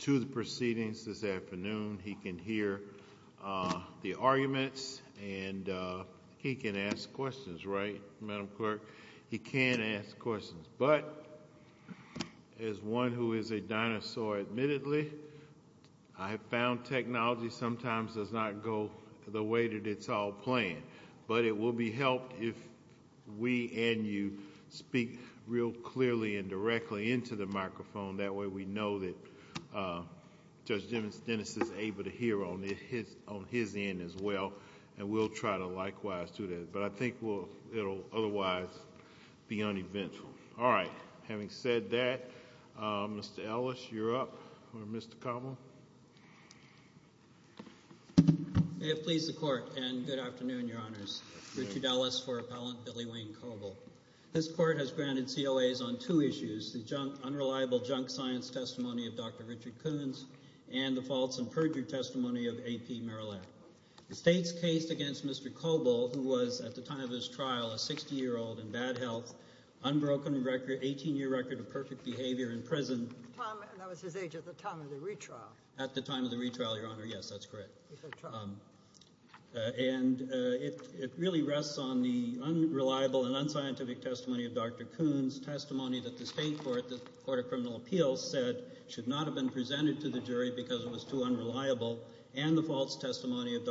to the proceedings this afternoon. He can hear the arguments and he can ask questions, right, Madam Clerk? He can ask questions, but as one who is a dinosaur, admittedly, I have found technology sometimes does not go the way that it's all planned, but it will be helped if we and you speak real clearly and directly into the microphone, that way we know that Judge Dennis is able to hear on his end as well, and we'll try to likewise do that, but I think it'll otherwise be uneventful. All right, having said that, Mr. Ellis, you're up, or Mr. Coble. May it please the Court and good afternoon, Your Honors. Richard Ellis for Appellant Billy Wayne Coble. This Court has granted COAs on two issues, the unreliable junk science testimony of Dr. Richard Coons and the false and perjured testimony of A.P. Merillat. The state's case against Mr. Coble, who was, at the time of his trial, a 60-year-old in bad health, unbroken 18-year record of perfect behavior in prison. That was his age at the time of the retrial. At the time of the retrial, Your Honor, yes, that's correct. And it really rests on the unreliable and unscientific testimony of Dr. Coons, testimony that the state court, the Court of Criminal Appeals, said should not have been presented to the jury because it was too unreliable, and the false testimony of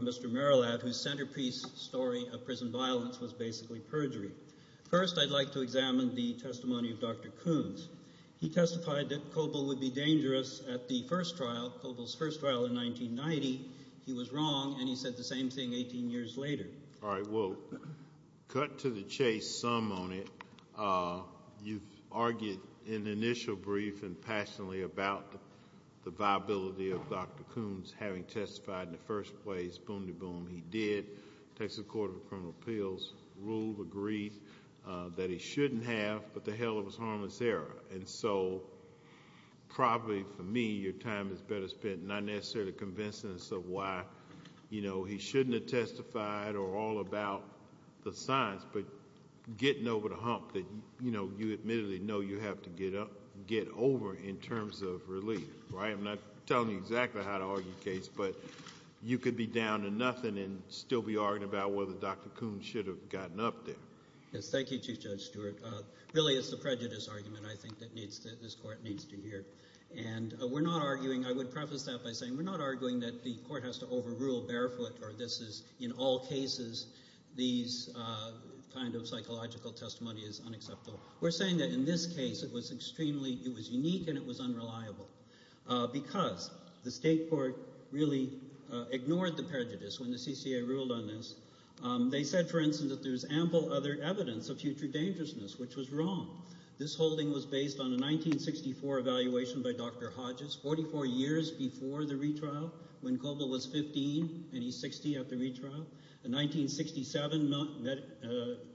Mr. Merillat, whose centerpiece story of prison violence was basically perjury. First, I'd like to examine the testimony of Dr. Coons. He testified that Coble would be dangerous at the first trial, Coble's first trial in 1990. He was wrong, and he said the same thing 18 years later. All right, well, cut to the chase, sum on it. You've argued in the initial brief and passionately about the viability of Dr. Coons having testified in the first place, boom-de-boom, he did. Texas Court of Criminal Appeals ruled, agreed that he shouldn't have, but the hell of his harmless error. And so probably for me, your time is better spent not necessarily convincing us of why he shouldn't have testified or all about the science, but getting over the hump that you admittedly know you have to get over in terms of relief, right? I'm not telling you how to argue the case, but you could be down to nothing and still be arguing about whether Dr. Coons should have gotten up there. Yes, thank you, Chief Judge Stewart. Really, it's the prejudice argument, I think, that this Court needs to hear. And we're not arguing, I would preface that by saying we're not arguing that the Court has to overrule barefoot or this is, in all cases, these kind of psychological testimony is unacceptable. We're saying that in this case, it was extremely, it was unique and it was unreliable because the State Court really ignored the prejudice when the CCA ruled on this. They said, for instance, that there's ample other evidence of future dangerousness, which was wrong. This holding was based on a 1964 evaluation by Dr. Hodges, 44 years before the retrial, when Coble was 15 and he's 60 after retrial. A 1967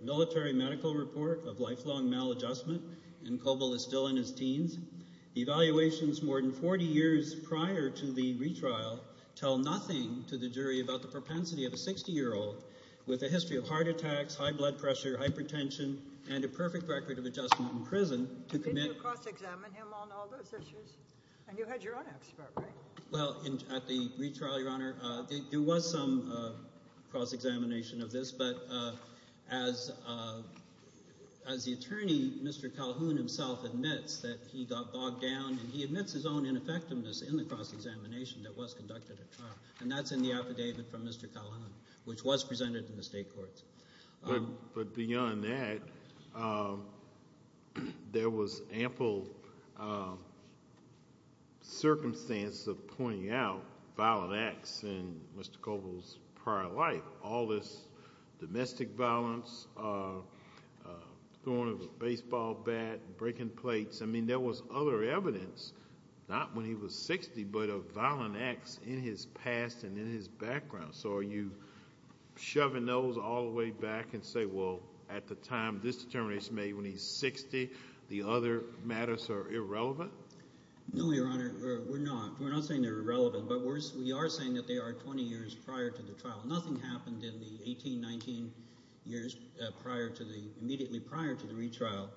military medical report of lifelong maladjustment and Coble is still in his teens. Evaluations more than 40 years prior to the retrial tell nothing to the jury about the propensity of a 60-year-old with a history of heart attacks, high blood pressure, hypertension, and a perfect record of adjustment in prison to commit... Did you cross-examine him on all those issues? And you had your own expert, right? Well, at the retrial, Your Honor, there was some cross-examination of this, but as the attorney, Mr. Calhoun, himself admits that he got bogged down and he admits his own ineffectiveness in the cross-examination that was conducted at trial, and that's in the affidavit from Mr. Calhoun, which was presented in the State Courts. But beyond that, there was ample circumstance of pointing out violent acts in Mr. Coble's prior life. All this domestic violence, throwing a baseball bat, breaking plates. I mean, there was other evidence, not when he was 60, but of violent acts in his past and in his background. So are you shoving those all the way back and say, well, at the time this determination made when he's 60, the other matters are irrelevant? No, Your Honor, we're not. We're not saying they're irrelevant, but we are saying that they are 20 years prior to the trial. Nothing happened in the 18, 19 years immediately prior to the retrial.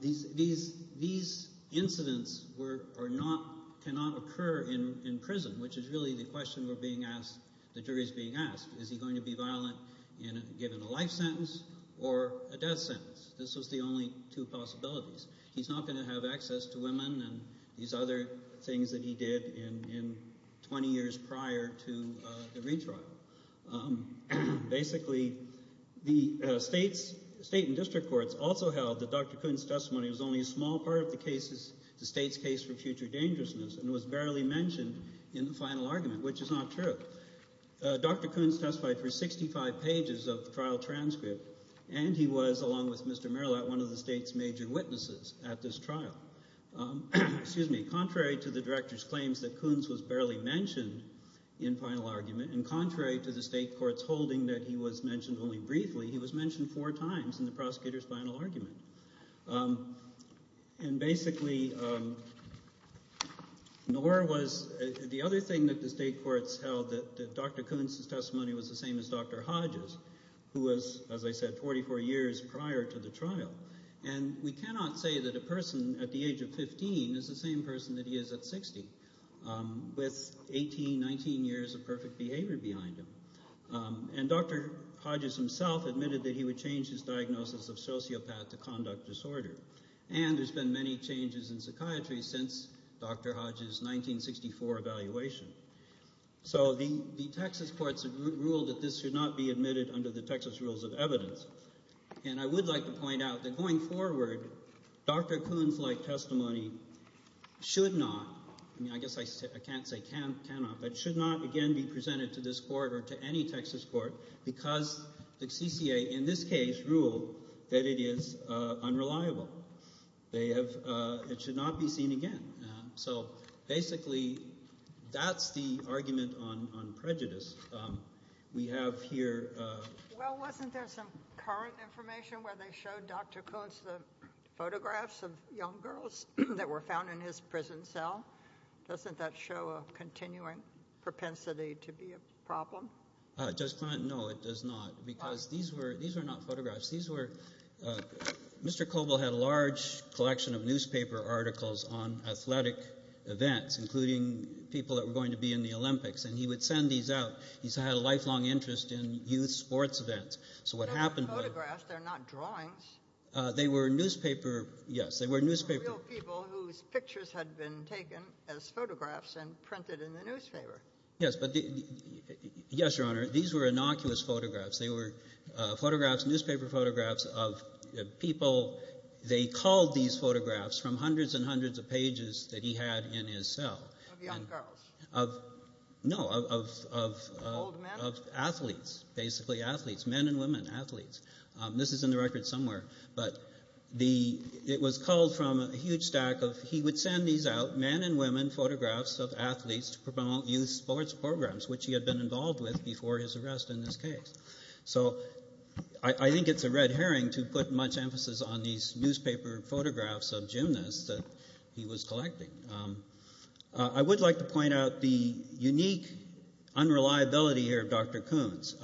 These incidents cannot occur in prison, which is really the question the jury is being asked. Is he going to be violent given a two possibilities? He's not going to have access to women and these other things that he did in 20 years prior to the retrial. Basically, the state and district courts also held that Dr. Coon's testimony was only a small part of the state's case for future dangerousness and was barely mentioned in the final argument, which is not true. Dr. Coon's testified for 65 pages of major witnesses at this trial. Contrary to the director's claims that Coon's was barely mentioned in final argument, and contrary to the state court's holding that he was mentioned only briefly, he was mentioned four times in the prosecutor's final argument. Basically, the other thing that the state courts held that Dr. Coon's testimony was the same as Dr. Hodge's, who was, as I said, 44 years prior to the trial. We cannot say that a person at the age of 15 is the same person that he is at 60, with 18, 19 years of perfect behavior behind him. Dr. Hodge's himself admitted that he would change his diagnosis of sociopath to conduct disorder. There's been many changes in psychiatry since Dr. Hodge's 1964 evaluation. So the Texas courts have ruled that this should not be admitted under the Texas rules of evidence, and I would like to point out that going forward, Dr. Coon's-like testimony should not, I mean, I guess I can't say cannot, but should not again be presented to this court or to any Texas court because the CCA, in this case, ruled that it is unreliable. It should not be seen again. So basically, that's the argument on prejudice. We have here- Well, wasn't there some current information where they showed Dr. Coon's photographs of young girls that were found in his prison cell? Doesn't that show a continuing propensity to be a problem? Judge Clinton, no, it does not because these were not photographs. These were-Mr. Hodge had a lifelong interest in athletic events, including people that were going to be in the Olympics, and he would send these out. He's had a lifelong interest in youth sports events. So what happened- They're not photographs. They're not drawings. They were newspaper-yes, they were newspaper- Real people whose pictures had been taken as photographs and printed in the newspaper. Yes, but-yes, Your Honor, these were innocuous photographs. They were photographs, newspaper photographs of people. They called these photographs from hundreds and hundreds of newspapers that he had in his cell. Of young girls? No, of- Old men? Of athletes, basically athletes, men and women athletes. This is in the record somewhere, but it was called from a huge stack of-he would send these out, men and women photographs of athletes to promote youth sports programs, which he had been involved with before his arrest in this case. So I think it's a red herring to put much emphasis on these newspaper photographs of gymnasts that he was collecting. I would like to point out the unique unreliability here of Dr. Koons,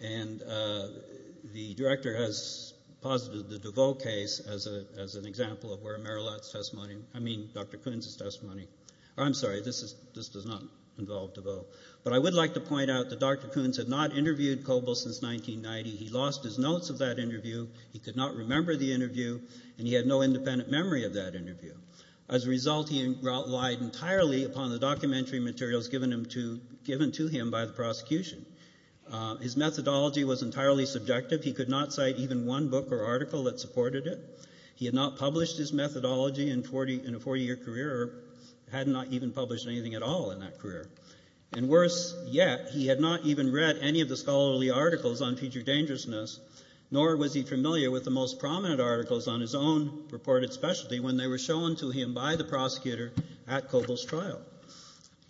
and the director has posited the DeVoe case as an example of where Dr. Koons' testimony-I mean, Dr. Koons' testimony-I'm sorry, this does not involve DeVoe, but I would like to point out that Dr. Koons had not interviewed Kobel since 1990. He lost his notes of that interview. He did not remember the interview, and he had no independent memory of that interview. As a result, he relied entirely upon the documentary materials given to him by the prosecution. His methodology was entirely subjective. He could not cite even one book or article that supported it. He had not published his methodology in a 40-year career, or had not even published anything at all in that career. And worse yet, he had not even read any of the scholarly articles on future dangerousness, nor was he familiar with the most prominent articles on his own purported specialty when they were shown to him by the prosecutor at Kobel's trial.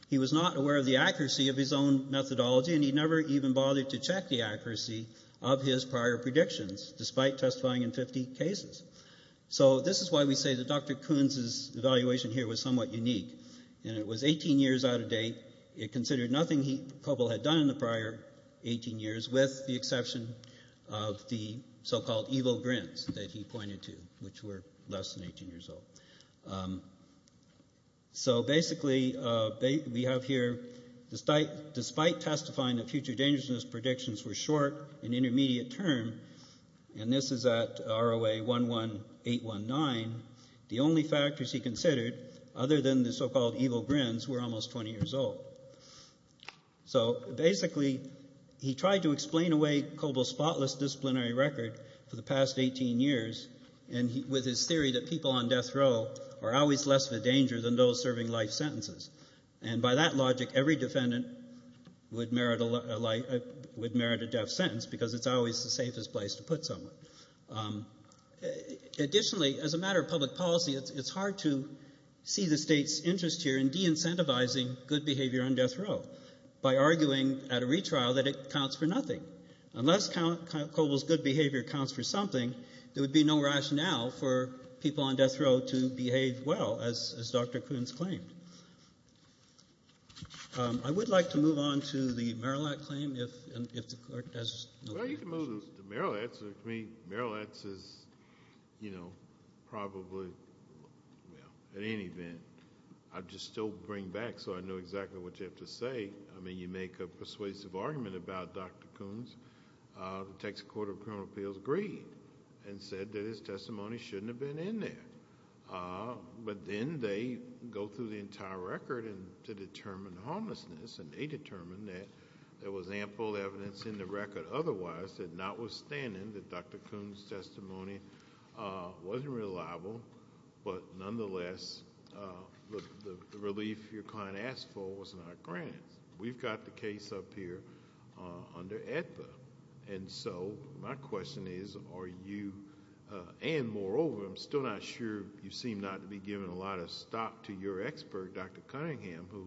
He was not aware of the accuracy of his own methodology, and he never even bothered to check the accuracy of his prior predictions, despite testifying in 50 cases. So this is why we say that Dr. Koons' evaluation here was somewhat unique, and it was 18 years out of date. It considered nothing Kobel had done in the prior 18 years, with the exception of the so-called evil grins that he pointed to, which were less than 18 years old. So basically, we have here, despite testifying that future dangerousness predictions were short and intermediate term, and this is at ROA 11819, the only factors he considered, other than the so-called evil grins, were almost 20 years old. So basically, he tried to explain away Kobel's spotless disciplinary record for the past 18 years with his theory that people on death row are always less of a danger than those serving life sentences. And by that logic, every defendant would merit a death sentence, because it's always the safest place to put someone. Additionally, as a matter of public policy, it's hard to see the state's interest here in de-incentivizing good behavior on death row by arguing at a retrial that it counts for nothing. Unless Kobel's good behavior counts for something, there would be no rationale for people on death row to behave well, as Dr. Koons claimed. I would like to move on to the Marillat claim, if the court has no further questions. The Marillat, to me, Marillat is, you know, probably, well, at any event, I'd just still bring back so I know exactly what you have to say. I mean, you make a persuasive argument about Dr. Koons. The Texas Court of Criminal Appeals agreed and said that his testimony shouldn't have been in there. But then they go through the entire record to determine homelessness, and they notwithstanding that Dr. Koons' testimony wasn't reliable, but nonetheless, the relief your client asked for was not granted. We've got the case up here under Aetna. My question is, are you, and moreover, I'm still not sure you seem not to be giving a lot of stock to your expert, Dr. Cunningham, who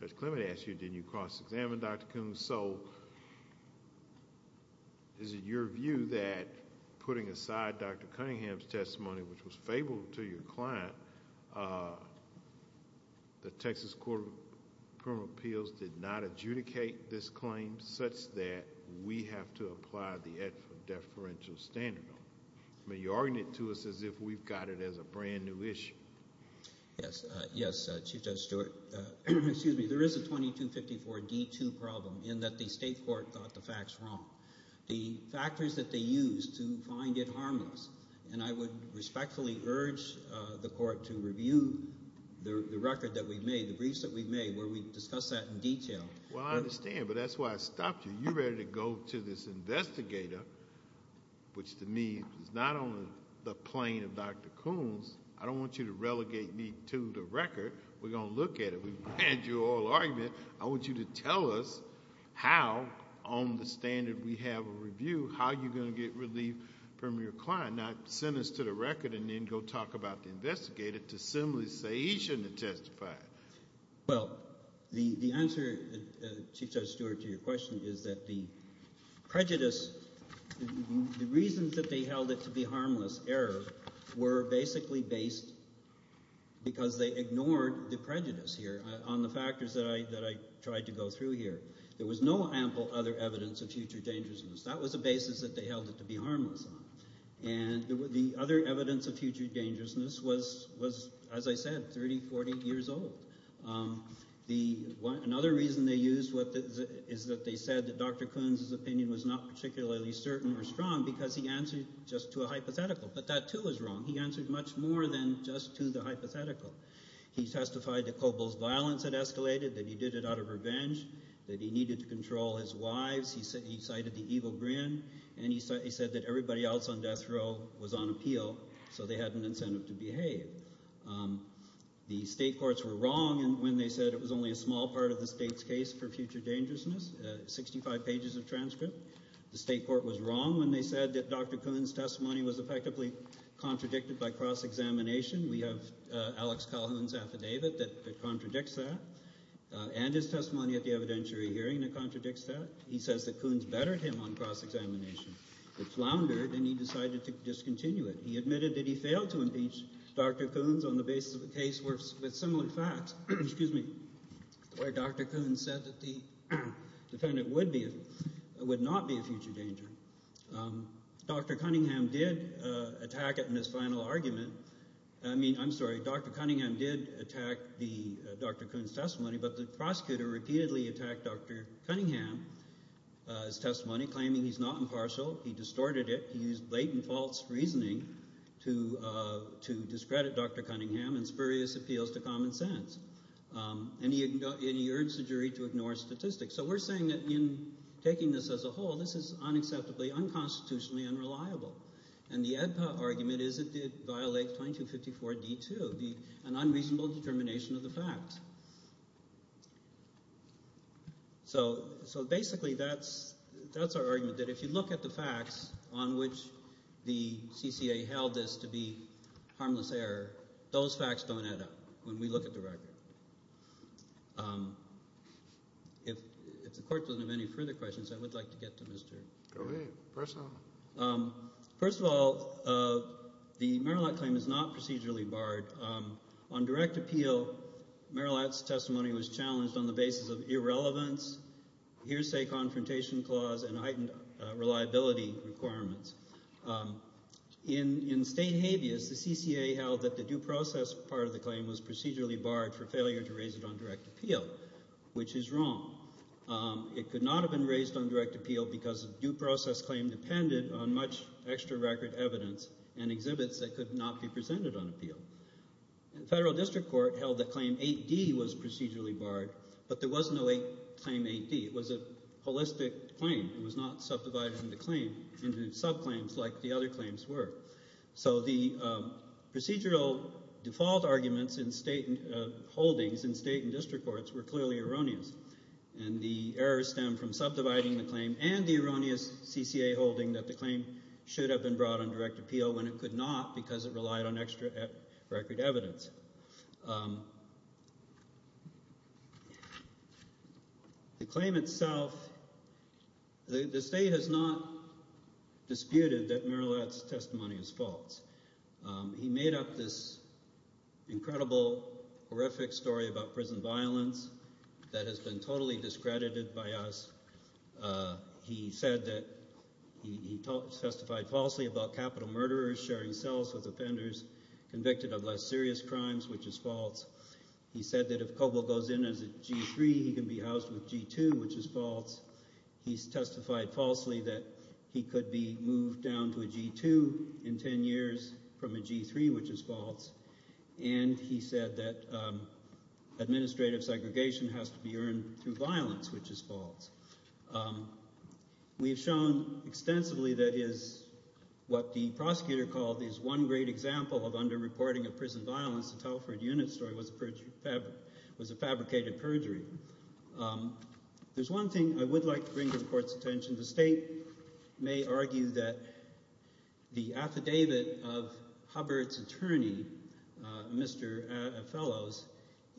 Judge Clement asked you, did you cross-examine Dr. Koons? Is it your view that, putting aside Dr. Cunningham's testimony, which was favorable to your client, the Texas Court of Criminal Appeals did not adjudicate this claim such that we have to apply the Aetna deferential standard? I mean, you're arguing it to us as if we've got it as a brand new issue. Yes, yes, Chief Judge Stewart. Excuse me, there is a 2254 D2 problem in that state court got the facts wrong. The factors that they used to find it harmless, and I would respectfully urge the court to review the record that we've made, the briefs that we've made, where we've discussed that in detail. Well, I understand, but that's why I stopped you. You're ready to go to this investigator, which to me is not on the plane of Dr. Koons. I don't want you to relegate me to the record. We're going to look at it. We've read your oral argument. I want you to tell us how, on the standard we have a review, how you're going to get relief from your client, not send us to the record and then go talk about the investigator to simply say he shouldn't have testified. Well, the answer, Chief Judge Stewart, to your question is that the prejudice, the reasons that they held it to be harmless error were basically based because they ignored the prejudice here on the factors that I tried to go through here. There was no ample other evidence of future dangerousness. That was the basis that they held it to be harmless on, and the other evidence of future dangerousness was, as I said, 30, 40 years old. Another reason they used is that they said that Dr. Koons's opinion was not particularly certain or strong because he answered just to a hypothetical, but that too is wrong. He answered much more than just to the hypothetical. He testified that Kobol's violence had escalated, that he did it out of revenge, that he needed to control his wives. He cited the evil grin, and he said that everybody else on death row was on appeal, so they had an incentive to behave. The state courts were wrong when they said it was only a small part of the state's case for future dangerousness, 65 pages of transcript. The state court was wrong when they said that Dr. Koons's testimony at the cross-examination, we have Alex Calhoun's affidavit that contradicts that, and his testimony at the evidentiary hearing that contradicts that. He says that Koons bettered him on cross-examination. It floundered, and he decided to discontinue it. He admitted that he failed to impeach Dr. Koons on the basis of a case with similar facts, where Dr. Koons said that the argument, I'm sorry, Dr. Cunningham did attack Dr. Koons' testimony, but the prosecutor repeatedly attacked Dr. Cunningham's testimony, claiming he's not impartial. He distorted it. He used blatant false reasoning to discredit Dr. Cunningham and spurious appeals to common sense, and he urged the jury to ignore statistics. So we're saying that in taking this as a whole, this is unacceptably, unconstitutionally unreliable, and the AEDPA argument is it did violate 2254D2, an unreasonable determination of the fact. So basically that's our argument, that if you look at the facts on which the CCA held this to be harmless error, those facts don't add up when we look at the record. If the court doesn't have any further questions, I would like to get to Mr. Russell. First of all, the Merillat claim is not procedurally barred. On direct appeal, Merillat's testimony was challenged on the basis of irrelevance, hearsay confrontation clause, and heightened reliability requirements. In state habeas, the CCA held that the due process part of the claim was procedurally barred for failure to raise it on direct appeal, which is wrong. It could not have been raised on direct appeal because due process claim depended on much extra record evidence and exhibits that could not be presented on appeal. The Federal District Court held that Claim 8D was procedurally barred, but there was no Claim 8D. It was a holistic claim. It was not subdivided into subclaims like the other claims were. So the claims were clearly erroneous, and the errors stem from subdividing the claim and the erroneous CCA holding that the claim should have been brought on direct appeal when it could not because it relied on extra record evidence. The claim itself, the state has not disputed that Merillat's testimony is false. He made up this incredible, horrific story about prison violence, that has been totally discredited by us. He said that he testified falsely about capital murderers sharing cells with offenders convicted of less serious crimes, which is false. He said that if Coble goes in as a G3, he can be housed with G2, which is false. He testified falsely that he could be moved down to a G2 in 10 years from a G3, which is false. And he said that administrative segregation has to be earned through violence, which is false. We've shown extensively that his, what the prosecutor called his one great example of underreporting of prison violence, the Telford Unit story, was a fabricated perjury. There's one thing I would like to bring to the Court's attention. The state may argue that the affidavit of Hubbard's attorney, Mr. Fellows,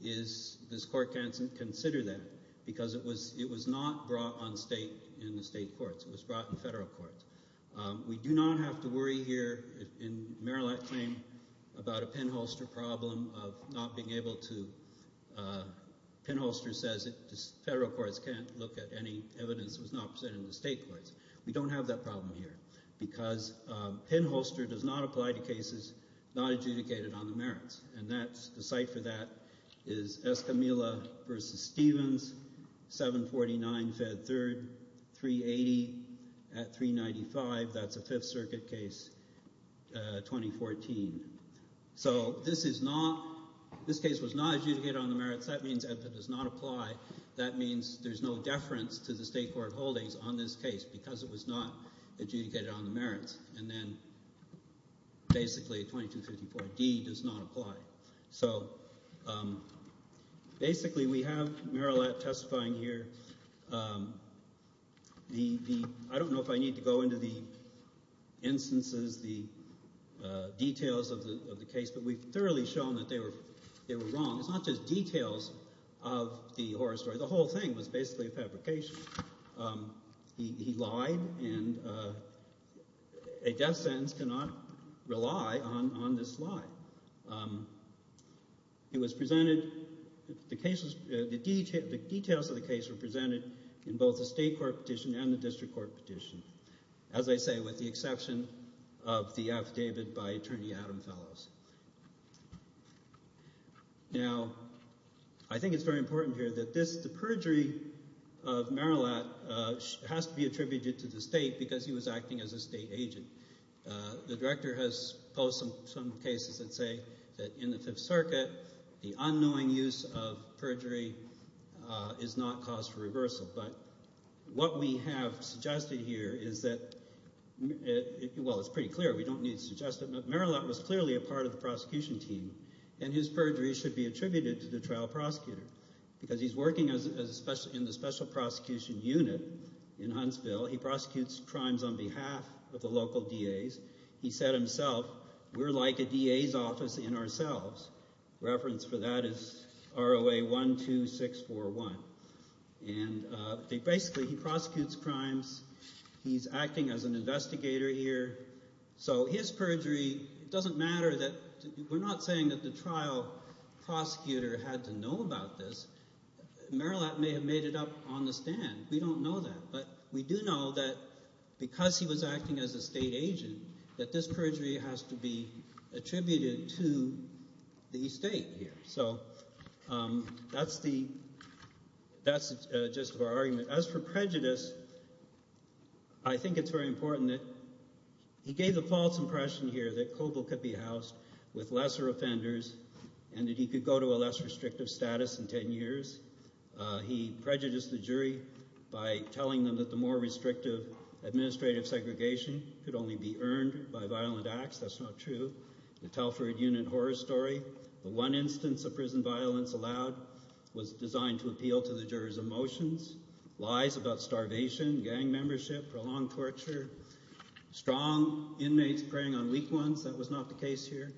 is, this Court can't consider that, because it was not brought in the state courts. It was brought in federal courts. We do not have to worry here in Merillat's claim about a pinholster problem of not being able to, pinholster says federal courts can't look at any evidence that was not presented in the state courts. We don't have that problem here, because pinholster does not apply to cases not adjudicated on the merits. And that's, the site for that is Escamilla versus Stevens, 749 Fed 3rd, 380 at 395. That's a Fifth Circuit case, 2014. So this is not, this case was not adjudicated on the merits. That means it does not apply. That means there's no deference to the state court holdings on this case, because it was not adjudicated on the merits. And then basically 2254D does not apply. So basically we have Merillat testifying here. The, I don't know if I need to go into the instances, the details of the case, but we've thoroughly shown that they were wrong. It's not just details of the horror story. The whole thing was basically a fabrication. He lied and a death sentence cannot rely on this lie. It was presented, the cases, the details of the case were presented in both the state court petition and the district court petition. As I say, with the exception of the affidavit by Merillat, it has to be attributed to the state because he was acting as a state agent. The director has posed some cases that say that in the Fifth Circuit the unknowing use of perjury is not cause for reversal. But what we have suggested here is that, well it's pretty clear, we don't need to suggest it, but Merillat was clearly a part of the prosecution team and his perjury should be attributed to the trial prosecutor because he's working as a special prosecution unit in Huntsville. He prosecutes crimes on behalf of the local DAs. He said himself, we're like a DA's office in ourselves. Reference for that is ROA 12641. And basically he prosecutes crimes. He's acting as an investigator here. So his perjury, it doesn't matter that, we're not saying that the trial prosecutor had to know about this. Merillat may have made it up on the stand. We don't know that. But we do know that because he was acting as a state agent, that this perjury has to be attributed to the state here. So that's the, that's just our argument. As for prejudice, I think it's very important that he gave the false impression here that Coble could be housed with lesser offenders and that could go to a less restrictive status in 10 years. He prejudiced the jury by telling them that the more restrictive administrative segregation could only be earned by violent acts. That's not true. The Telford unit horror story, the one instance of prison violence allowed was designed to appeal to the jurors emotions, lies about starvation, gang membership, prolonged torture, strong inmates preying on weak ones. That was not the case here.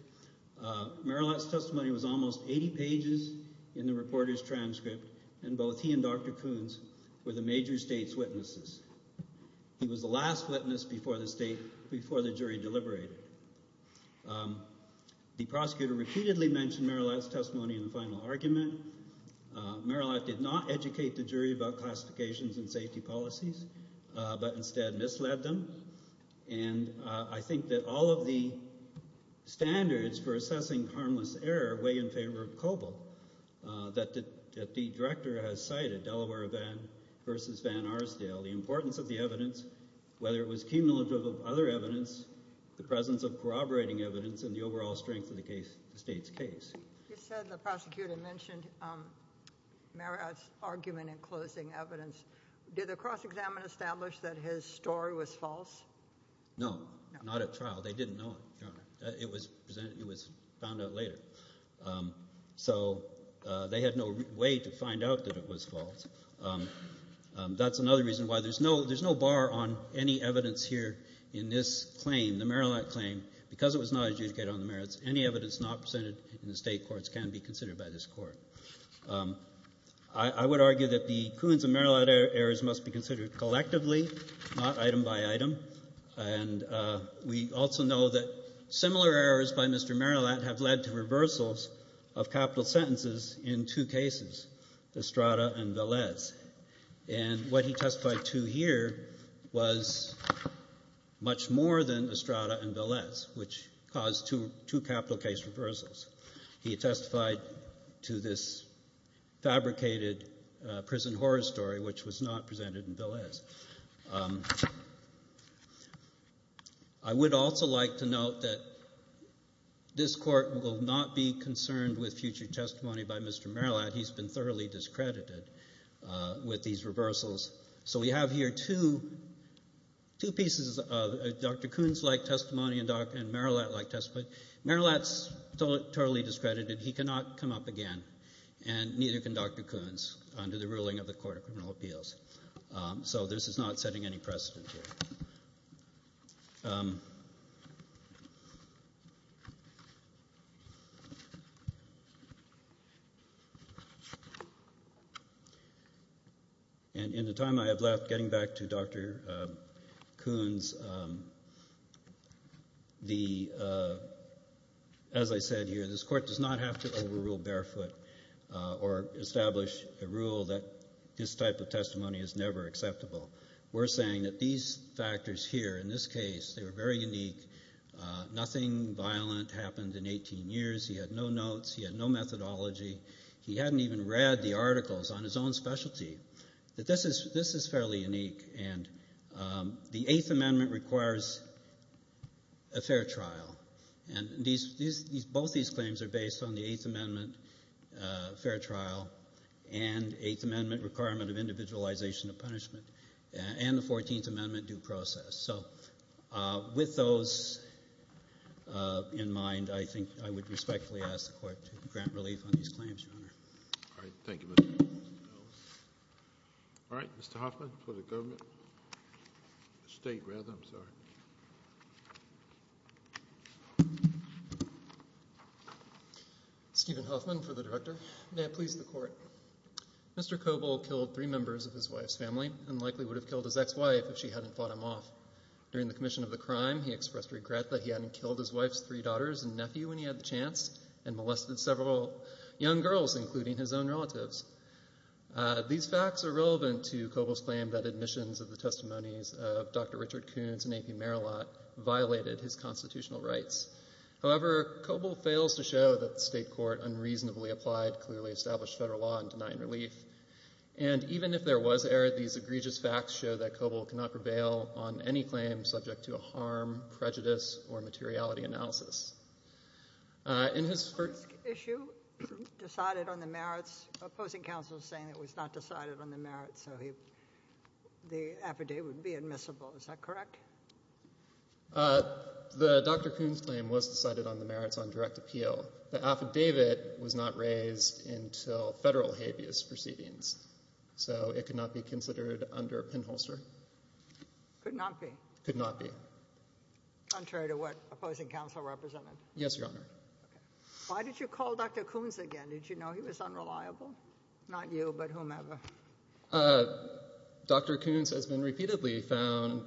Merillat's testimony was almost 80 pages in the reporter's transcript, and both he and Dr. Coons were the major state's witnesses. He was the last witness before the state, before the jury deliberated. The prosecutor repeatedly mentioned Merillat's testimony in the final argument. Merillat did not educate the jury about classifications and safety policies, but instead misled them. And I think that all of the standards for assessing harmless error weigh in favor of Coble, that the director has cited, Delaware v. Van Arsdale, the importance of the evidence, whether it was cumulative of other evidence, the presence of corroborating evidence, and the overall strength of the case, the state's case. You said the prosecutor mentioned Merillat's argument in closing evidence. Did the cross-examination establish that his story was false? No, not at trial. They didn't know it, Your Honor. It was presented, it was found out later. So they had no way to find out that it was false. That's another reason why there's no, there's no bar on any evidence here in this claim, the Merillat claim, because it was not adjudicated on the merits, any evidence not presented in the state courts can be considered by this Court. I would argue that the Coons and Merillat errors must be considered collectively, not item by item. And we also know that similar errors by Mr. Merillat have led to reversals of capital sentences in two cases, Estrada and Velez. And what he testified to here was much more than Estrada and Velez, which caused two capital case reversals. He testified to this fabricated prison horror story, which was not presented in Velez. I would also like to note that this Court will not be concerned with future testimony by Mr. Merillat. He's been thoroughly discredited with these reversals. So we have here two, two pieces of Dr. Coons-like testimony and Merillat-like testimony. Merillat's totally discredited. He cannot come up again, and neither can Dr. Coons, under the ruling of the Court of Criminal Appeals. So this is not setting any precedent here. And in the time I have left, getting back to Dr. Coons, as I said here, this Court does not have to overrule barefoot or establish a rule that this type of testimony is never acceptable. We're saying that these factors here, in this case, they were very unique. Nothing violent happened in 18 years. He had no notes. He had no methodology. He hadn't even read the articles on his own specialty. This is fairly unique. And the Eighth Amendment requires a fair trial. And both these claims are based on the Eighth Amendment fair trial and Eighth Amendment requirement of individualization of punishment, and the Fourteenth Amendment due process. So with those in mind, I think I would respectfully ask the Court to grant relief on these claims, Your Honor. All right. Thank you, Mr. Merillat. All right. Mr. Hoffman for the government. State rather, I'm sorry. Stephen Hoffman for the Director. May it please the Court. Mr. Kobol killed three members of his wife's family and likely would have killed his ex-wife if she hadn't fought him off. During the commission of the crime, he expressed regret that he hadn't killed his wife's three daughters and nephew when he had the chance and molested several young girls, including his own relatives. These facts are relevant to Kobol's claim that admissions of the testimonies of Dr. Richard Koons and A.P. Merillat violated his constitutional rights. However, Kobol fails to show that the state court unreasonably applied clearly established federal law in denying relief. And even if there was error, these egregious facts show that Kobol cannot prevail on any claim subject to a harm, prejudice, or materiality analysis. In his first issue, decided on the merits. Opposing counsel is saying it was not decided on the merits, so the affidavit would be admissible. Is that correct? The Dr. Koons claim was decided on the merits on direct appeal. The affidavit was not raised until federal habeas proceedings, so it could not be considered under a pinholster. Could not be. Could not be. Contrary to what opposing counsel represented. Yes, Your Honor. Why did you call Dr. Koons again? Did you know he was unreliable? Not you, but whomever. Dr. Koons has been repeatedly found,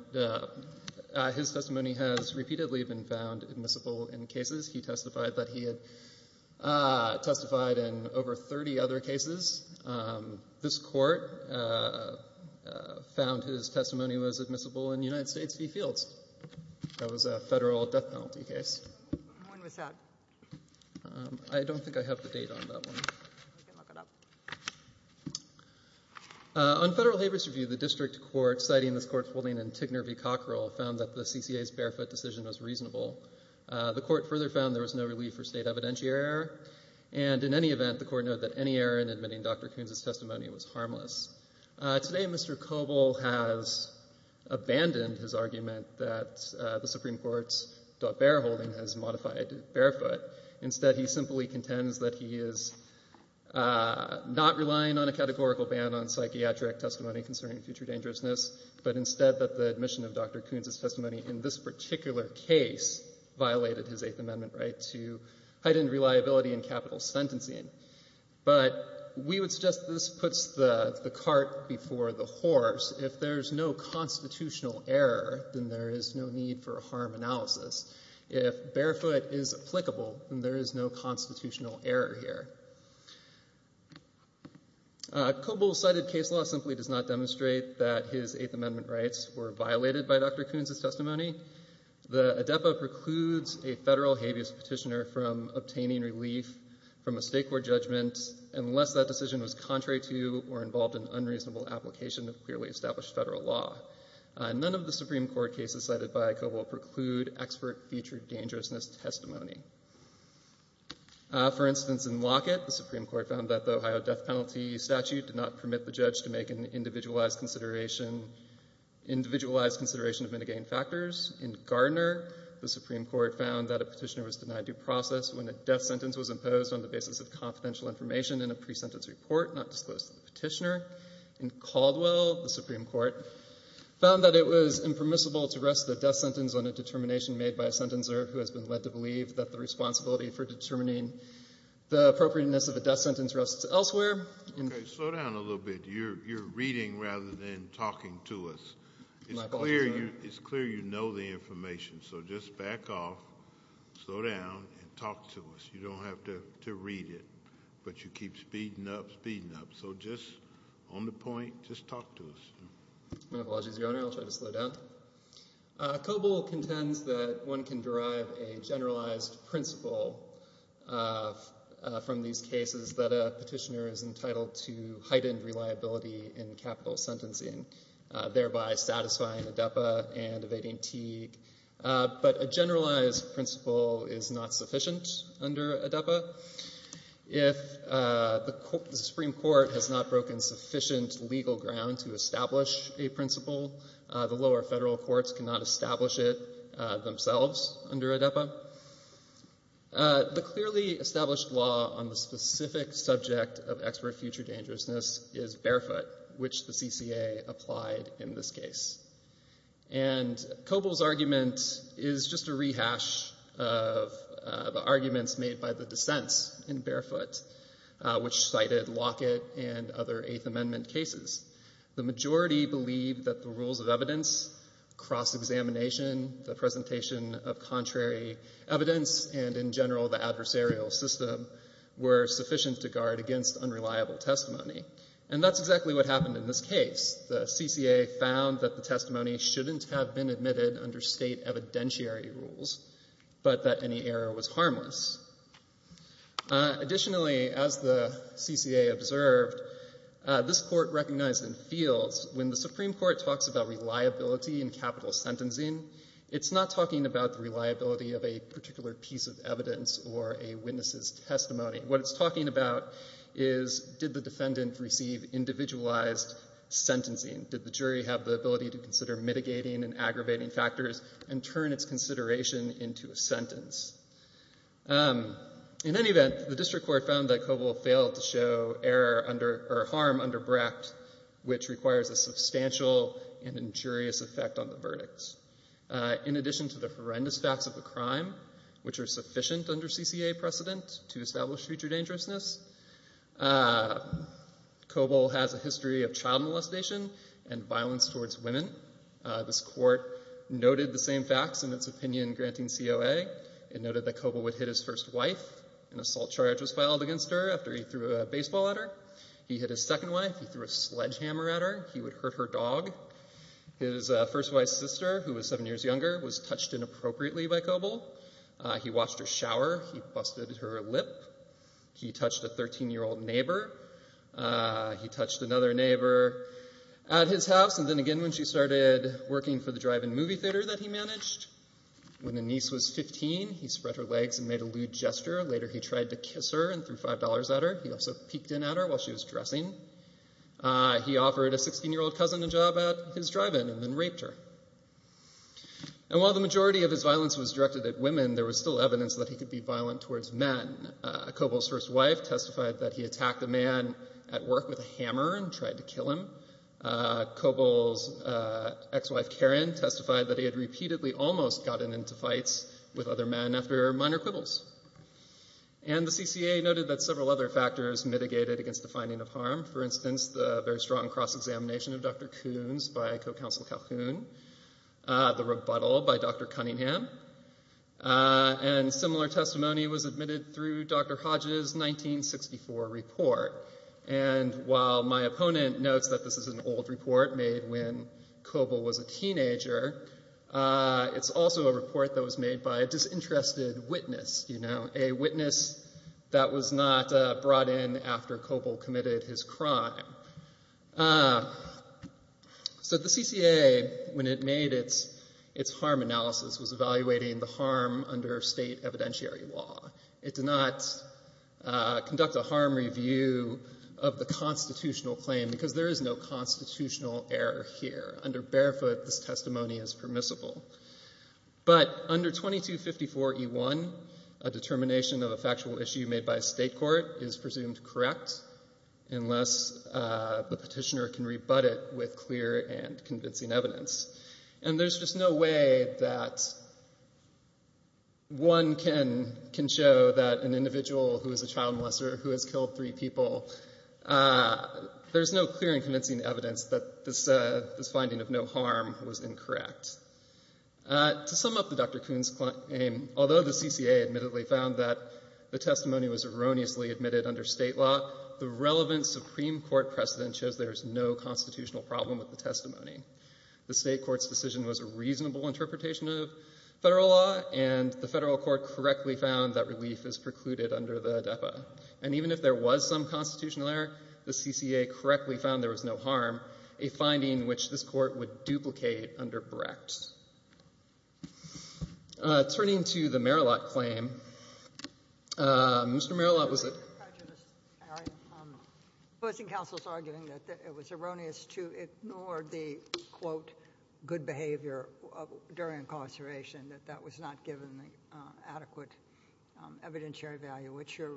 his testimony has repeatedly been found admissible in cases. He testified that he had testified in over 30 other cases. This court found his testimony was a federal death penalty case. When was that? I don't think I have the date on that one. On federal habeas review, the district court, citing this court's holding in Tigner v. Cockrell, found that the CCA's barefoot decision was reasonable. The court further found there was no relief for state evidentiary error, and in any event, the court noted that any error in admitting Dr. Koons' testimony was harmless. Today, Mr. Kobol has abandoned his argument that the Supreme Court's bareholding has modified barefoot. Instead, he simply contends that he is not relying on a categorical ban on psychiatric testimony concerning future dangerousness, but instead that the admission of Dr. Koons' testimony in this particular case violated his Eighth Amendment right to heightened reliability and capital sentencing. But we would suggest this puts the cart before the horse. If there's no constitutional error, then there is no need for harm analysis. If barefoot is applicable, then there is no constitutional error here. Kobol's cited case law simply does not demonstrate that his Eighth Amendment rights were violated by Dr. Koons' testimony. The ADEPA precludes a federal habeas petitioner from obtaining relief from a state court judgment unless that decision was contrary to or involved in unreasonable application of clearly established federal law. None of the Supreme Court cases cited by Kobol preclude expert future dangerousness testimony. For instance, in Lockett, the Supreme Court found that the Ohio death penalty statute did not permit the judge to make an individualized consideration of mitigating factors. In Gardner, the Supreme Court found that a petitioner was denied due process when a death sentence was imposed on the basis of confidential information in a pre-sentence report not disclosed to the public. It is permissible to rest the death sentence on a determination made by a sentencer who has been led to believe that the responsibility for determining the appropriateness of a death sentence rests elsewhere. Okay, slow down a little bit. You're reading rather than talking to us. My apologies, Your Honor. It's clear you know the information, so just back off, slow down, and talk to us. You don't have to read it, but you keep speeding up, speeding up. So just on the point, just talk to us. My apologies, Your Honor. I'll try to slow down. Kobol contends that one can derive a generalized principle from these cases that a petitioner is entitled to heightened reliability in capital sentencing, thereby satisfying ADEPA and evading Teague, but a generalized principle is not sufficient under ADEPA. If the Supreme Court has not broken sufficient legal ground to establish a principle, the lower federal courts cannot establish it themselves under ADEPA. The clearly established law on the specific subject of expert future dangerousness is Barefoot, which the CCA applied in this case. And Kobol's argument is just a rehash of the arguments made by the dissents in Barefoot, which cited Lockett and other Eighth Amendment cases. The majority believe that the rules of evidence, cross-examination, the presentation of contrary evidence, and in general the adversarial system were sufficient to guard against unreliable testimony. And that's exactly what happened in this case. The CCA found that the testimony shouldn't have been admitted under state evidentiary rules, but that any error was harmless. Additionally, as the CCA observed, this court recognized in fields, when the Supreme Court talks about reliability in capital sentencing, it's not talking about the reliability of a particular piece of evidence or a witness's testimony. What it's talking about is, did the defendant receive individualized sentencing? Did the jury have the ability to consider mitigating and aggravating factors and turn its consideration into a sentence? In any event, the district court found that Kobol failed to show error or harm under Brecht, which requires a substantial and injurious effect on the verdicts. In addition to the horrendous facts of the crime, which are sufficient under CCA precedent to establish future dangerousness, Kobol has a history of child molestation and violence towards women. This court noted the same facts in its opinion granting COA. It noted that Kobol would hit his first wife. An assault charge was filed against her after he threw a baseball at her. He hit his second wife. He threw a sledgehammer at her. He would hurt her dog. His first wife's sister, who was seven years younger, was touched inappropriately by Kobol. He washed her shower. He busted her lip. He touched a 13-year-old neighbor. He touched another neighbor at his house, and then again when she started working for the drive-in movie theater that he managed. When the niece was 15, he spread her legs and made a lewd gesture. Later, he tried to kiss her and threw $5 at her. He also peeked in at her while she was dressing. He offered a 16-year-old cousin a job at his drive-in and then raped her. And while the majority of his violence was directed at women, there was still evidence that he could be violent towards men. Kobol's first wife testified that he attacked a man at work with a hammer and tried to kill him. Kobol's ex-wife, Karen, testified that he had repeatedly almost gotten into fights with other men after minor quibbles. And the CCA noted that several other factors mitigated against the finding of harm. For instance, the very strong cross-examination of Dr. Coons by co-counsel Calhoun, the rebuttal by Dr. Cunningham, and similar testimony was admitted through Dr. Hodges' 1964 report. And while my opponent notes that this is an old report made when Kobol was a teenager, it's also a report that was made by a disinterested witness, you know, a witness that was not brought in after Kobol committed his crime. So the CCA, when it made its harm analysis, was evaluating the harm under state evidentiary law. It did not conduct a harm review of the constitutional claim because there is no constitutional error here. Under barefoot, this testimony is permissible. But under 2254E1, a determination of a factual issue made by a state court is presumed correct unless the petitioner can rebut it with clear and convincing evidence. And there's just no way that one can show that an individual who is a child molester who has killed three people, there's no clear and convincing evidence that this finding of no harm was incorrect. To sum up the Dr. Coon's claim, although the CCA admittedly found that the testimony was erroneously admitted under state law, the relevant Supreme Court precedent shows there's no constitutional problem with the testimony. The state court's decision was a reasonable interpretation of federal law, and the federal court correctly found that relief is precluded under the ADEPA. And even if there was some constitutional error, the CCA correctly found there was no harm, a finding which this court would duplicate under Brecht. Turning to the Marillot claim, Mr. Marillot, was it? Your Honor, I'm opposing counsel's arguing that it was erroneous to ignore the, quote, good behavior during incarceration, that that was not given adequate evidentiary value. What's your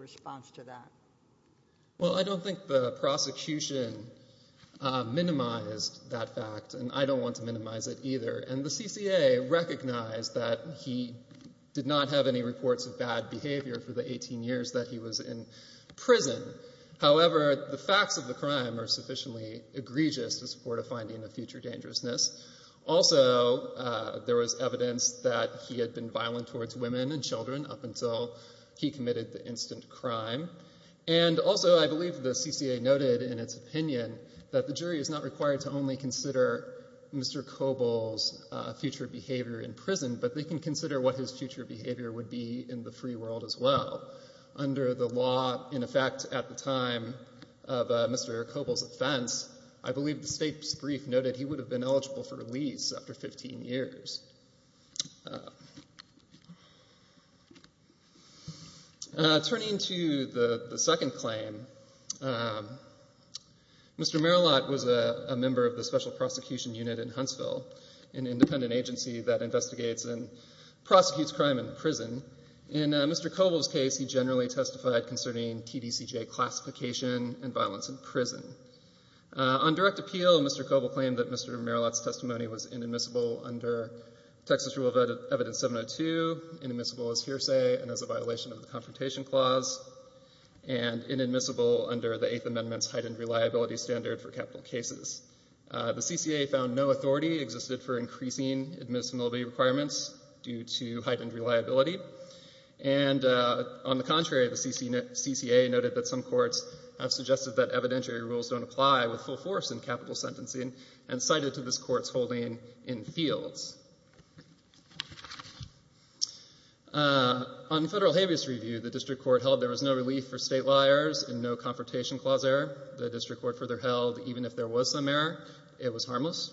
minimize that fact? And I don't want to minimize it either. And the CCA recognized that he did not have any reports of bad behavior for the 18 years that he was in prison. However, the facts of the crime are sufficiently egregious to support a finding of future dangerousness. Also, there was evidence that he had been violent towards women and children up until he committed the instant crime. And also, I believe the CCA noted in its opinion that the jury is not required to only consider Mr. Koble's future behavior in prison, but they can consider what his future behavior would be in the free world as well. Under the law, in effect, at the time of Mr. Koble's offense, I believe the state's brief noted he would have been eligible for release after 15 years. Turning to the second claim, Mr. Merillat was a member of the Special Prosecution Unit in Huntsville, an independent agency that investigates and prosecutes crime in prison. In Mr. Koble's case, he generally testified concerning TDCJ classification and violence in prison. On direct appeal, Mr. Koble claimed that Mr. Merillat's testimony was inadmissible under the TDCJ classification. Texas Rule of Evidence 702, inadmissible as hearsay and as a violation of the Confrontation Clause, and inadmissible under the Eighth Amendment's heightened reliability standard for capital cases. The CCA found no authority existed for increasing admissibility requirements due to heightened reliability. And on the contrary, the CCA noted that some courts have suggested that evidentiary rules don't apply with full force in capital sentencing and cited to this Court's holding in fields. On federal habeas review, the District Court held there was no relief for state liars and no Confrontation Clause error. The District Court further held even if there was some error, it was harmless.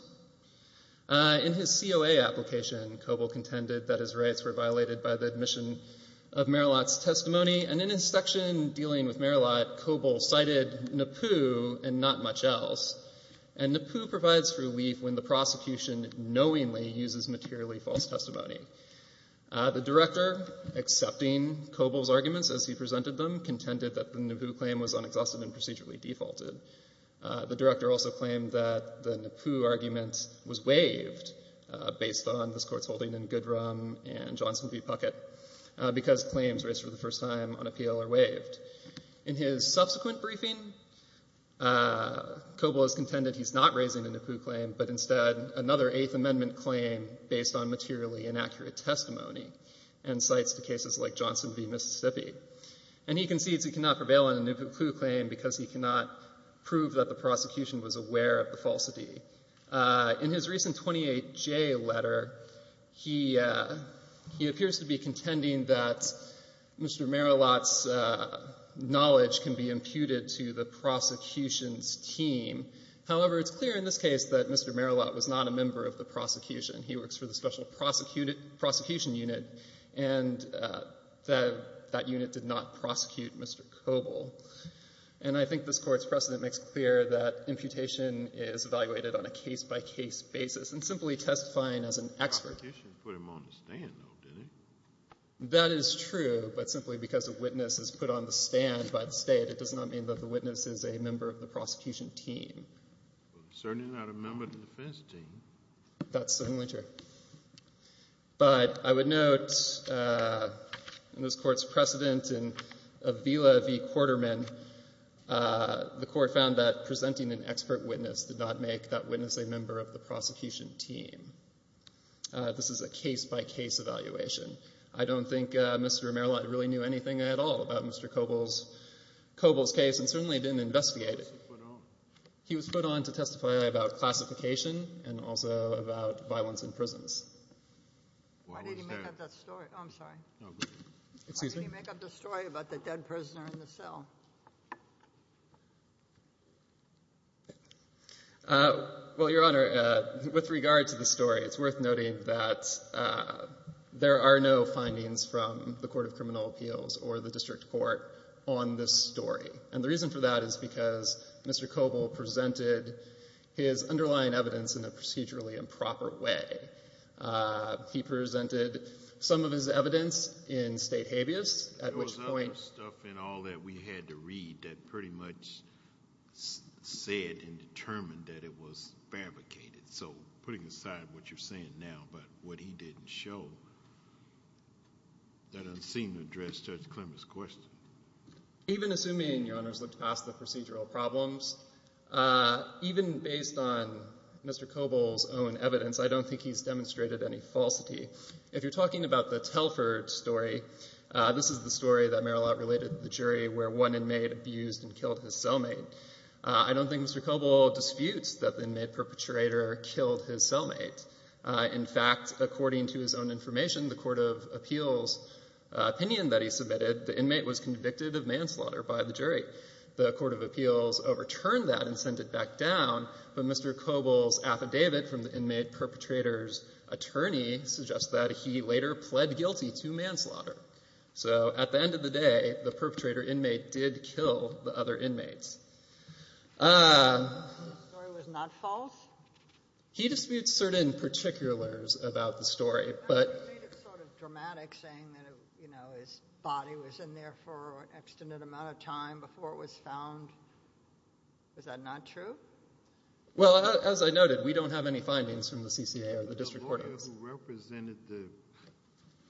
In his COA application, Koble contended that his rights were violated by the admission of Merillat's testimony, and in his section dealing with Merillat, Koble cited NAPU and not much else. And NAPU provides relief when the prosecution knowingly uses materially false testimony. The Director, accepting Koble's arguments as he presented them, contended that the NAPU claim was unexhausted and procedurally defaulted. The Director also claimed that the NAPU argument was waived based on this Court's holding in Goodrum and Johnson v. Puckett because claims raised for the first time on appeal are waived. In his subsequent briefing, Koble has contended he's not raising a NAPU claim, but instead another Eighth Amendment claim based on materially inaccurate testimony and cites to cases like Johnson v. Mississippi. And he concedes he cannot prevail on a NAPU claim because he cannot prove that the prosecution was aware of the falsity. In his recent 28J letter, he appears to be contending that Mr. Merillat's knowledge can be imputed to the prosecution's team. However, it's clear in this case that Mr. Merillat was not a member of the prosecution. He works for the Special Prosecution Unit, and that unit did not prosecute Mr. Koble. And I think this Court's precedent makes clear that imputation is evaluated on a case-by-case basis, and simply testifying as an expert. The prosecution put him on the stand, though, didn't it? That is true, but simply because a witness is put on the stand by the State, it does not mean that the witness is a member of the prosecution team. Well, he's certainly not a member of the defense team. That's certainly true. But I would note in this Court's precedent in Avila v. Quarterman, the Court found that presenting an expert witness did not make that witness a member of the prosecution team. This is a case-by-case evaluation. I don't think Mr. Merillat really knew anything at all about Mr. Koble's case, and certainly didn't investigate it. He was put on to testify about classification and also about violence in prisons. Why did he make up that story? Oh, I'm sorry. No, go ahead. Excuse me? Why did he make up the story about the dead prisoner in the cell? Well, Your Honor, with regard to the story, it's worth noting that there are no findings from the Court of Criminal Appeals or the district court on this story. And the reason for that is because Mr. Koble presented his underlying evidence in a procedurally improper way. He presented some of his evidence in state habeas, at which point— There was other stuff in all that we had to read that pretty much said and determined that it was fabricated. So putting aside what you're saying now about what he didn't show, that doesn't seem to address Judge Clement's question. Even assuming, Your Honors, looked past the procedural problems, even based on Mr. Koble's own evidence, I don't think he's demonstrated any falsity. If you're talking about the Telford story, this is the story that Marylotte related to the jury where one inmate abused and killed his cellmate. I don't think Mr. Koble disputes that the inmate perpetrator killed his cellmate. In fact, according to his own information, the Court of Appeals opinion that he submitted, the Court of Appeals overturned that and sent it back down. But Mr. Koble's affidavit from the inmate perpetrator's attorney suggests that he later pled guilty to manslaughter. So at the end of the day, the perpetrator inmate did kill the other inmates. The story was not false? He disputes certain particulars about the story, but— You made it sort of dramatic saying that his body was in there for an extant amount of time before it was found. Is that not true? Well, as I noted, we don't have any findings from the CCA or the district court. The lawyer who represented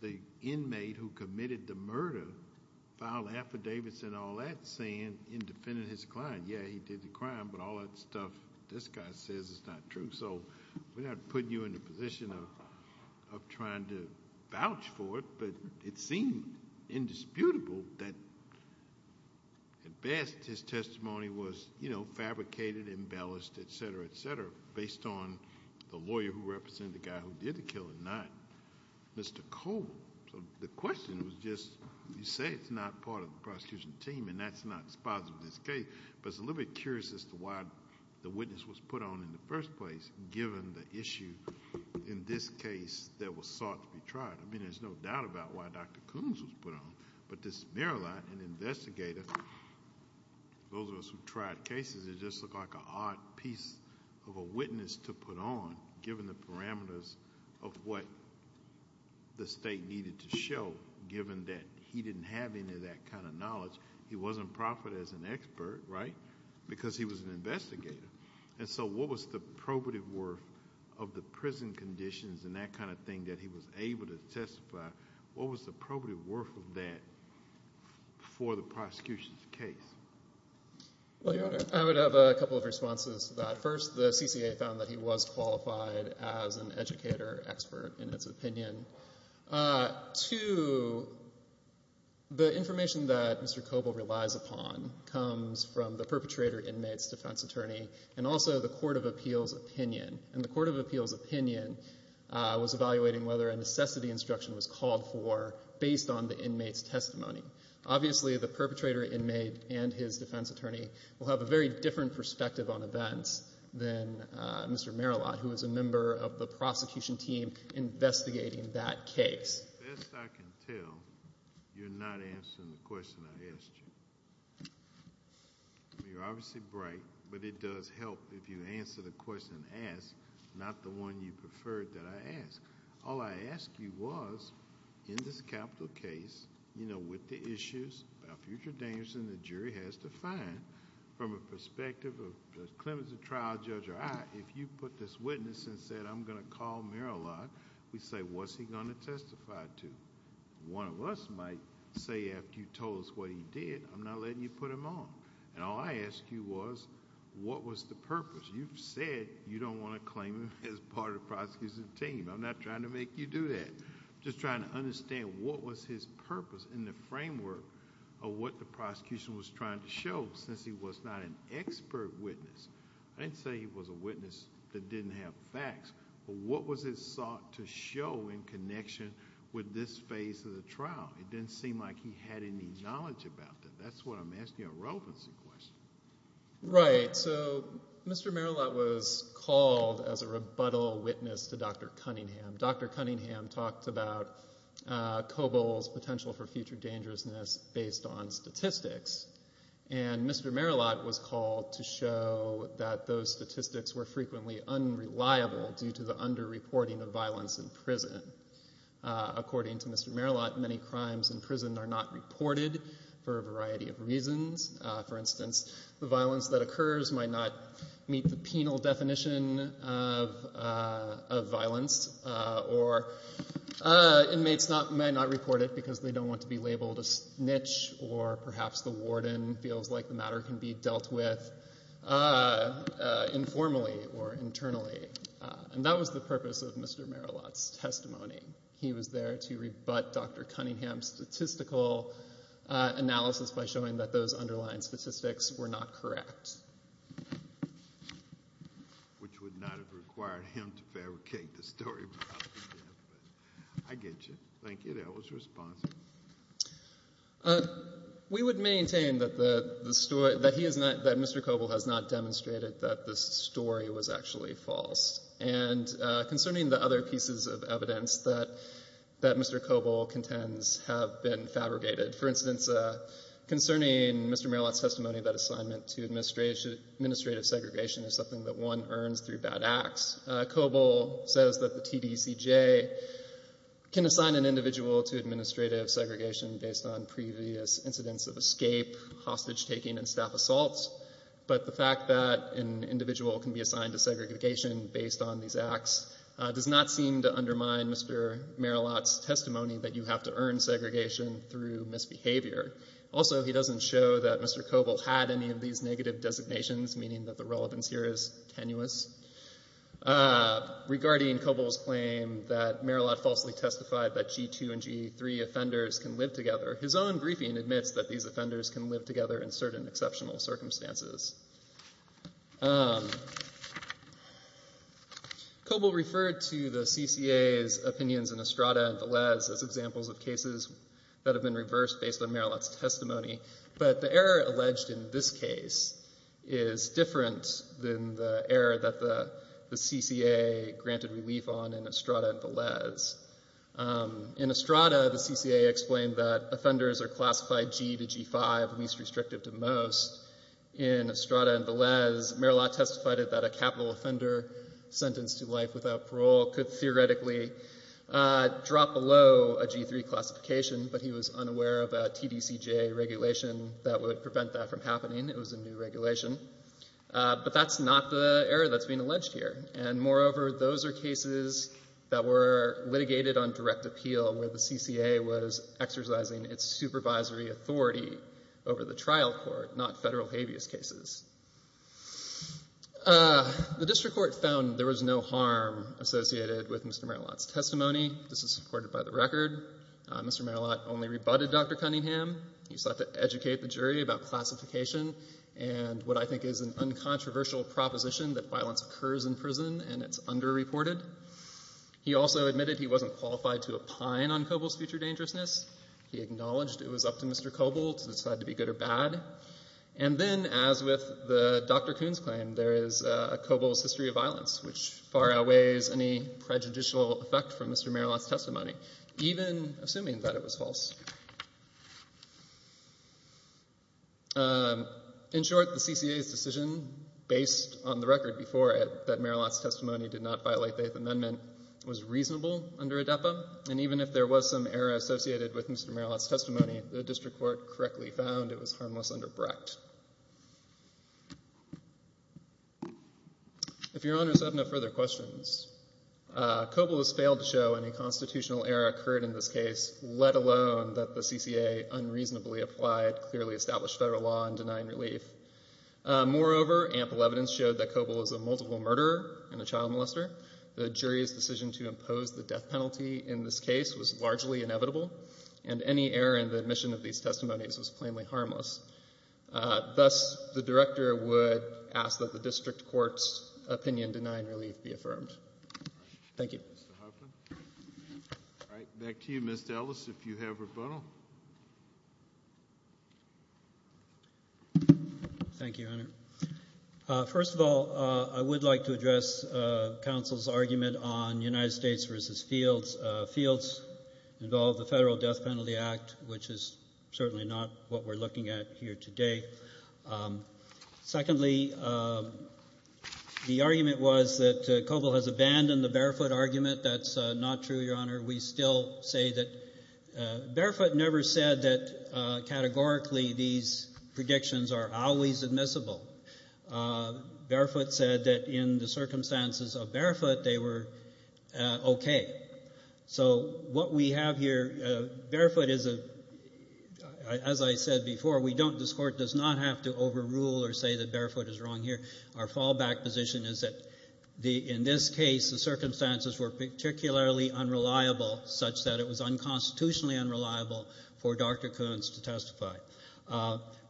the inmate who committed the murder filed an affidavit saying in defending his client, yeah, he did the crime, but all that stuff this guy says is not true. We're not putting you in the position of trying to vouch for it, but it seemed indisputable that at best his testimony was fabricated, embellished, et cetera, et cetera, based on the lawyer who represented the guy who did the killing, not Mr. Koble. The question was just, you say it's not part of the prosecution team, and that's not spotted in this case. But it's a little bit curious as to why the witness was put on in the first place, given the issue in this case that was sought to be tried. I mean, there's no doubt about why Dr. Coombs was put on, but this Maryland, an investigator, those of us who tried cases, it just looked like an odd piece of a witness to put on, given the parameters of what the state needed to show, given that he didn't have any of that kind of knowledge. He wasn't profited as an expert, right? Because he was an investigator. And so what was the probative worth of the prison conditions and that kind of thing that he was able to testify? What was the probative worth of that for the prosecution's case? Well, Your Honor, I would have a couple of responses to that. First, the CCA found that he was qualified as an educator expert in its opinion. Two, the information that Mr. Koble relies upon comes from the perpetrator inmate's defense attorney and also the court of appeals opinion. And the court of appeals opinion was evaluating whether a necessity instruction was called for based on the inmate's testimony. Obviously, the perpetrator inmate and his defense attorney will have a very different perspective on events than Mr. Merillat, who is a member of the prosecution team investigating that case. As best I can tell, you're not answering the question I asked you. You're obviously bright, but it does help if you answer the question asked, not the one you preferred that I asked. All I asked you was, in this capital case, you know, with the issues about future dangers that the jury has to find, from a perspective of the clemency trial judge or I, if you put this witness and said, I'm going to call Merillat, we say, what's he going to testify to? One of us might say, after you told us what he did, I'm not letting you put him on. And all I asked you was, what was the purpose? You've said you don't want to claim him as part of the prosecution team. I'm not trying to make you do that. I'm just trying to understand what was his purpose in the framework of what the prosecution was trying to show, since he was not an expert witness. I didn't say he was a witness that didn't have facts, but what was it sought to show in connection with this phase of the trial? It didn't seem like he had any knowledge about it. That's what I'm asking a relevancy question. Right. So Mr. Merillat was called as a rebuttal witness to Dr. Cunningham. Dr. Cunningham talked about COBOL's potential for future dangerousness based on statistics. And Mr. Merillat was called to show that those statistics were frequently unreliable due the under-reporting of violence in prison. According to Mr. Merillat, many crimes in prison are not reported for a variety of reasons. For instance, the violence that occurs might not meet the penal definition of violence, or inmates may not report it because they don't want to be labeled a snitch, or perhaps the warden feels like the matter can be dealt with informally or internally. And that was the purpose of Mr. Merillat's testimony. He was there to rebut Dr. Cunningham's statistical analysis by showing that those underlying statistics were not correct. Which would not have required him to fabricate the story. I get you. Thank you. That was responsive. Thank you. We would maintain that Mr. COBOL has not demonstrated that the story was actually false. And concerning the other pieces of evidence that Mr. COBOL contends have been fabricated, for instance, concerning Mr. Merillat's testimony that assignment to administrative segregation is something that one earns through bad acts, COBOL says that the TDCJ can assign an individual to administrative segregation based on previous incidents of escape, hostage taking, and staff assaults. But the fact that an individual can be assigned to segregation based on these acts does not seem to undermine Mr. Merillat's testimony that you have to earn segregation through misbehavior. Also, he doesn't show that Mr. COBOL had any of these negative designations, meaning that the relevance here is tenuous. Regarding COBOL's claim that Merillat falsely testified that G2 and G3 offenders can live together, his own briefing admits that these offenders can live together in certain exceptional circumstances. COBOL referred to the CCA's opinions in Estrada and Velez as examples of cases that have been reversed based on Merillat's testimony. But the error alleged in this case is different than the error that the CCA granted relief on in Estrada and Velez. In Estrada, the CCA explained that offenders are classified G to G5, least restrictive to most. In Estrada and Velez, Merillat testified that a capital offender sentenced to life without parole could theoretically drop below a G3 classification, but he was unaware of a TDCJ regulation that would prevent that from happening. It was a new regulation. But that's not the error that's being alleged here. And moreover, those are cases that were litigated on direct appeal where the CCA was exercising its supervisory authority over the trial court, not federal habeas cases. The district court found there was no harm associated with Mr. Merillat's testimony. This is supported by the record. Mr. Merillat only rebutted Dr. Cunningham. He sought to educate the jury about classification and what I think is an uncontroversial proposition that violence occurs in prison and it's underreported. He also admitted he wasn't qualified to opine on COBOL's future dangerousness. He acknowledged it was up to Mr. COBOL to decide to be good or bad. And then, as with Dr. Kuhn's claim, there is COBOL's history of violence, which far outweighs any prejudicial effect from Mr. Merillat's testimony, even assuming that it was false. In short, the CCA's decision, based on the record before it that Merillat's testimony did not violate the Eighth Amendment, was reasonable under ADEPA. And even if there was some error associated with Mr. Merillat's testimony, the district court correctly found it was harmless under Brecht. If your honors have no further questions, COBOL has failed to show any constitutional error occurred in this case, let alone that the CCA unreasonably applied clearly established federal law in denying relief. Moreover, ample evidence showed that COBOL is a multiple murderer and a child molester. The jury's decision to impose the death penalty in this case was largely inevitable. And any error in the admission of these testimonies was plainly harmless. Thus, the director would ask that the district court's opinion denying relief be affirmed. Thank you. All right. Back to you, Mr. Ellis, if you have rebuttal. Thank you, Your Honor. First of all, I would like to address counsel's argument on United States versus fields. Fields involved the Federal Death Penalty Act, which is certainly not what we're looking at here today. Secondly, the argument was that COBOL has abandoned the barefoot argument. That's not true, Your Honor. We still say that barefoot never said that categorically these predictions are always admissible. Barefoot said that in the circumstances of barefoot, they were okay. So what we have here, barefoot is a, as I said before, we don't, this court does not have to overrule or say that barefoot is wrong here. Our fallback position is that in this case, the circumstances were particularly unreliable such that it was unconstitutionally unreliable for Dr. Koontz to testify.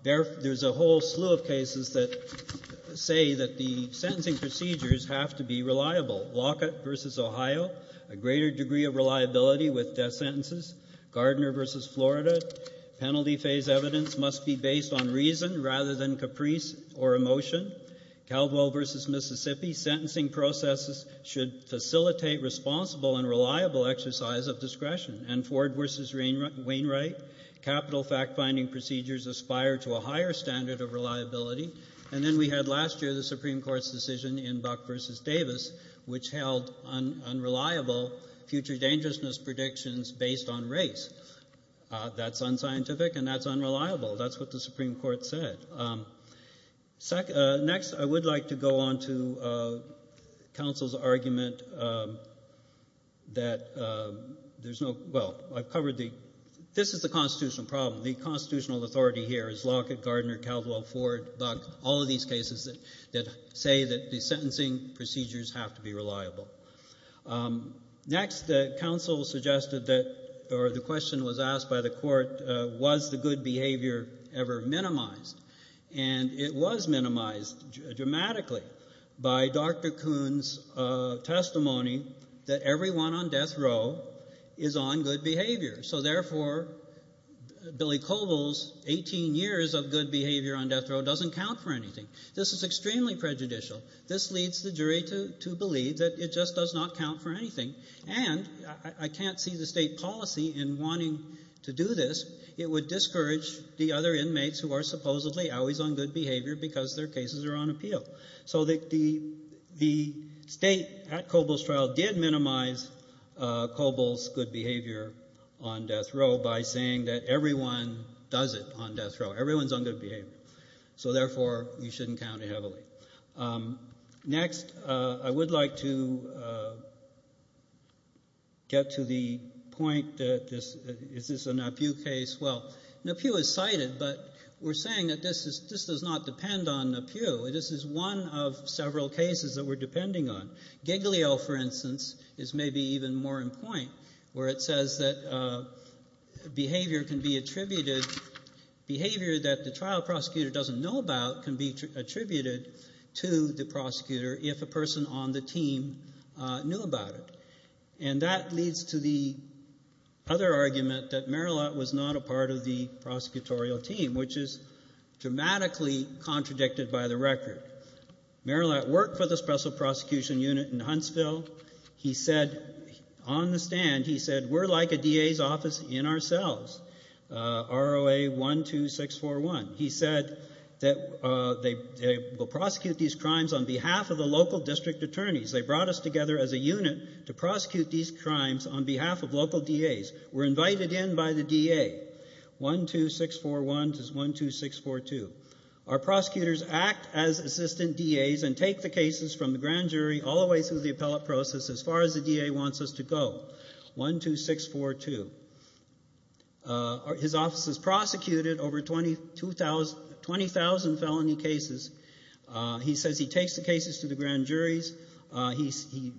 There's a whole slew of cases that say that the sentencing procedures have to be reliable. Lockett versus Ohio, a greater degree of reliability with death sentences. Gardner versus Florida, penalty phase evidence must be based on reason rather than caprice or emotion. Caldwell versus Mississippi, sentencing processes should facilitate responsible and reliable exercise of discretion. And Ford versus Wainwright, capital fact-finding procedures aspire to a higher standard of reliability. And then we had last year the Supreme Court's decision in Buck versus Davis, which held unreliable future dangerousness predictions based on race. That's unscientific and that's unreliable. That's what the Supreme Court said. Next, I would like to go on to counsel's argument that there's no, well, I've covered the, this is the constitutional problem. The constitutional authority here is Lockett, Gardner, Caldwell, Ford, Buck, all of these cases that say that the sentencing procedures have to be reliable. Next, counsel suggested that, or the question was asked by the court, was the good behavior ever minimized? And it was minimized dramatically by Dr. Koontz's testimony that everyone on death row is on good behavior. So therefore, Billy Koval's 18 years of good behavior on death row doesn't count for anything. This is extremely prejudicial. This leads the jury to believe that it just does not count for anything. And I can't see the state policy in wanting to do this. It would discourage the other inmates who are supposedly always on good behavior because their cases are on appeal. So the state at Koval's trial did minimize Koval's good behavior on death row by saying that everyone does it on death row. Everyone's on good behavior. So therefore, you shouldn't count it heavily. Next, I would like to get to the point that this, is this a Napieu case? Well, Napieu is cited, but we're saying that this is, this does not depend on Napieu. This is one of several cases that we're depending on. Giglio, for instance, is maybe even more in point where it says that behavior can be attributed, behavior that the trial prosecutor doesn't know about can be attributed to the prosecutor if a person on the team knew about it. And that leads to the other argument that Merillat was not a part of the prosecutorial team, which is dramatically contradicted by the record. Merillat worked for the Special Prosecution Unit in Huntsville. He said, on the stand, he said, we're like a DA's office in ourselves, ROA 12641. He said that they will prosecute these crimes on behalf of the local district attorneys. They brought us together as a unit to prosecute these crimes on behalf of local DAs. We're invited in by the DA, 12641 to 12642. Our prosecutors act as assistant DAs and take the cases from the grand jury all the way through the appellate process as far as the DA wants us to go, 12642. His office has prosecuted over 20,000 felony cases. He says he takes the cases to the grand juries. He,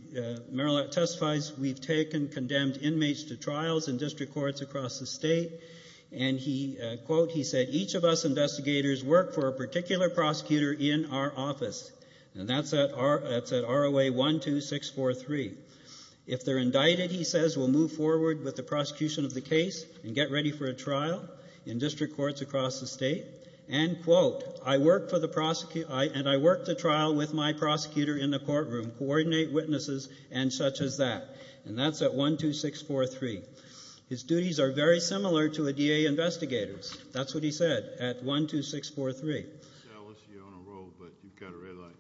Merillat testifies, we've taken condemned inmates to trials in district courts across the state. And he, quote, he said, each of us investigators work for a particular prosecutor in our office. And that's at ROA 12643. If they're indicted, he says, we'll move forward with the prosecution of the case and get ready for a trial in district courts across the state. End quote. I work for the prosecutor, and I work the trial with my prosecutor in the courtroom, coordinate witnesses, and such as that. And that's at 12643. His duties are very similar to a DA investigator's. That's what he said at 12643. I'm jealous you're on a roll, but you've got a red light.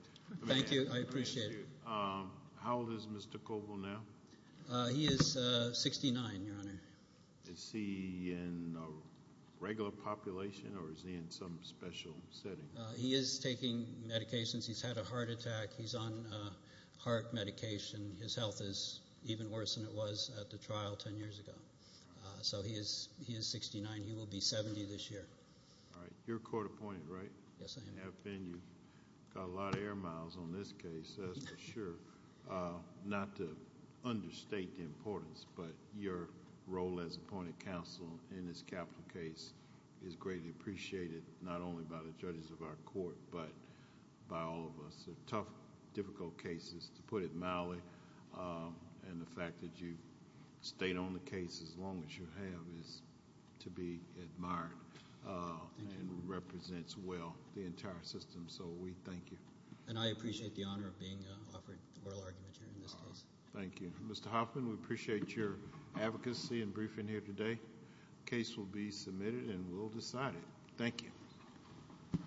Thank you. I appreciate it. How old is Mr. Coble now? He is 69, Your Honor. Is he in a regular population, or is he in some special setting? He is taking medications. He's had a heart attack. He's on heart medication. His health is even worse than it was at the trial 10 years ago. So he is 69. He will be 70 this year. All right. You're court appointed, right? Yes, I am. You have been. You've got a lot of air miles on this case, that's for sure. Not to understate the importance, but your role as appointed counsel in this capital case is greatly appreciated, not only by the judges of our court, but by all of us. They're tough, difficult cases, to put it mildly. And the fact that you've stayed on the case as long as you have is to be admired and represents well the entire system. So we thank you. And I appreciate the honor of being offered oral argument here in this case. Thank you. Mr. Hoffman, we appreciate your advocacy and briefing here today. The case will be submitted and we'll decide it. Thank you.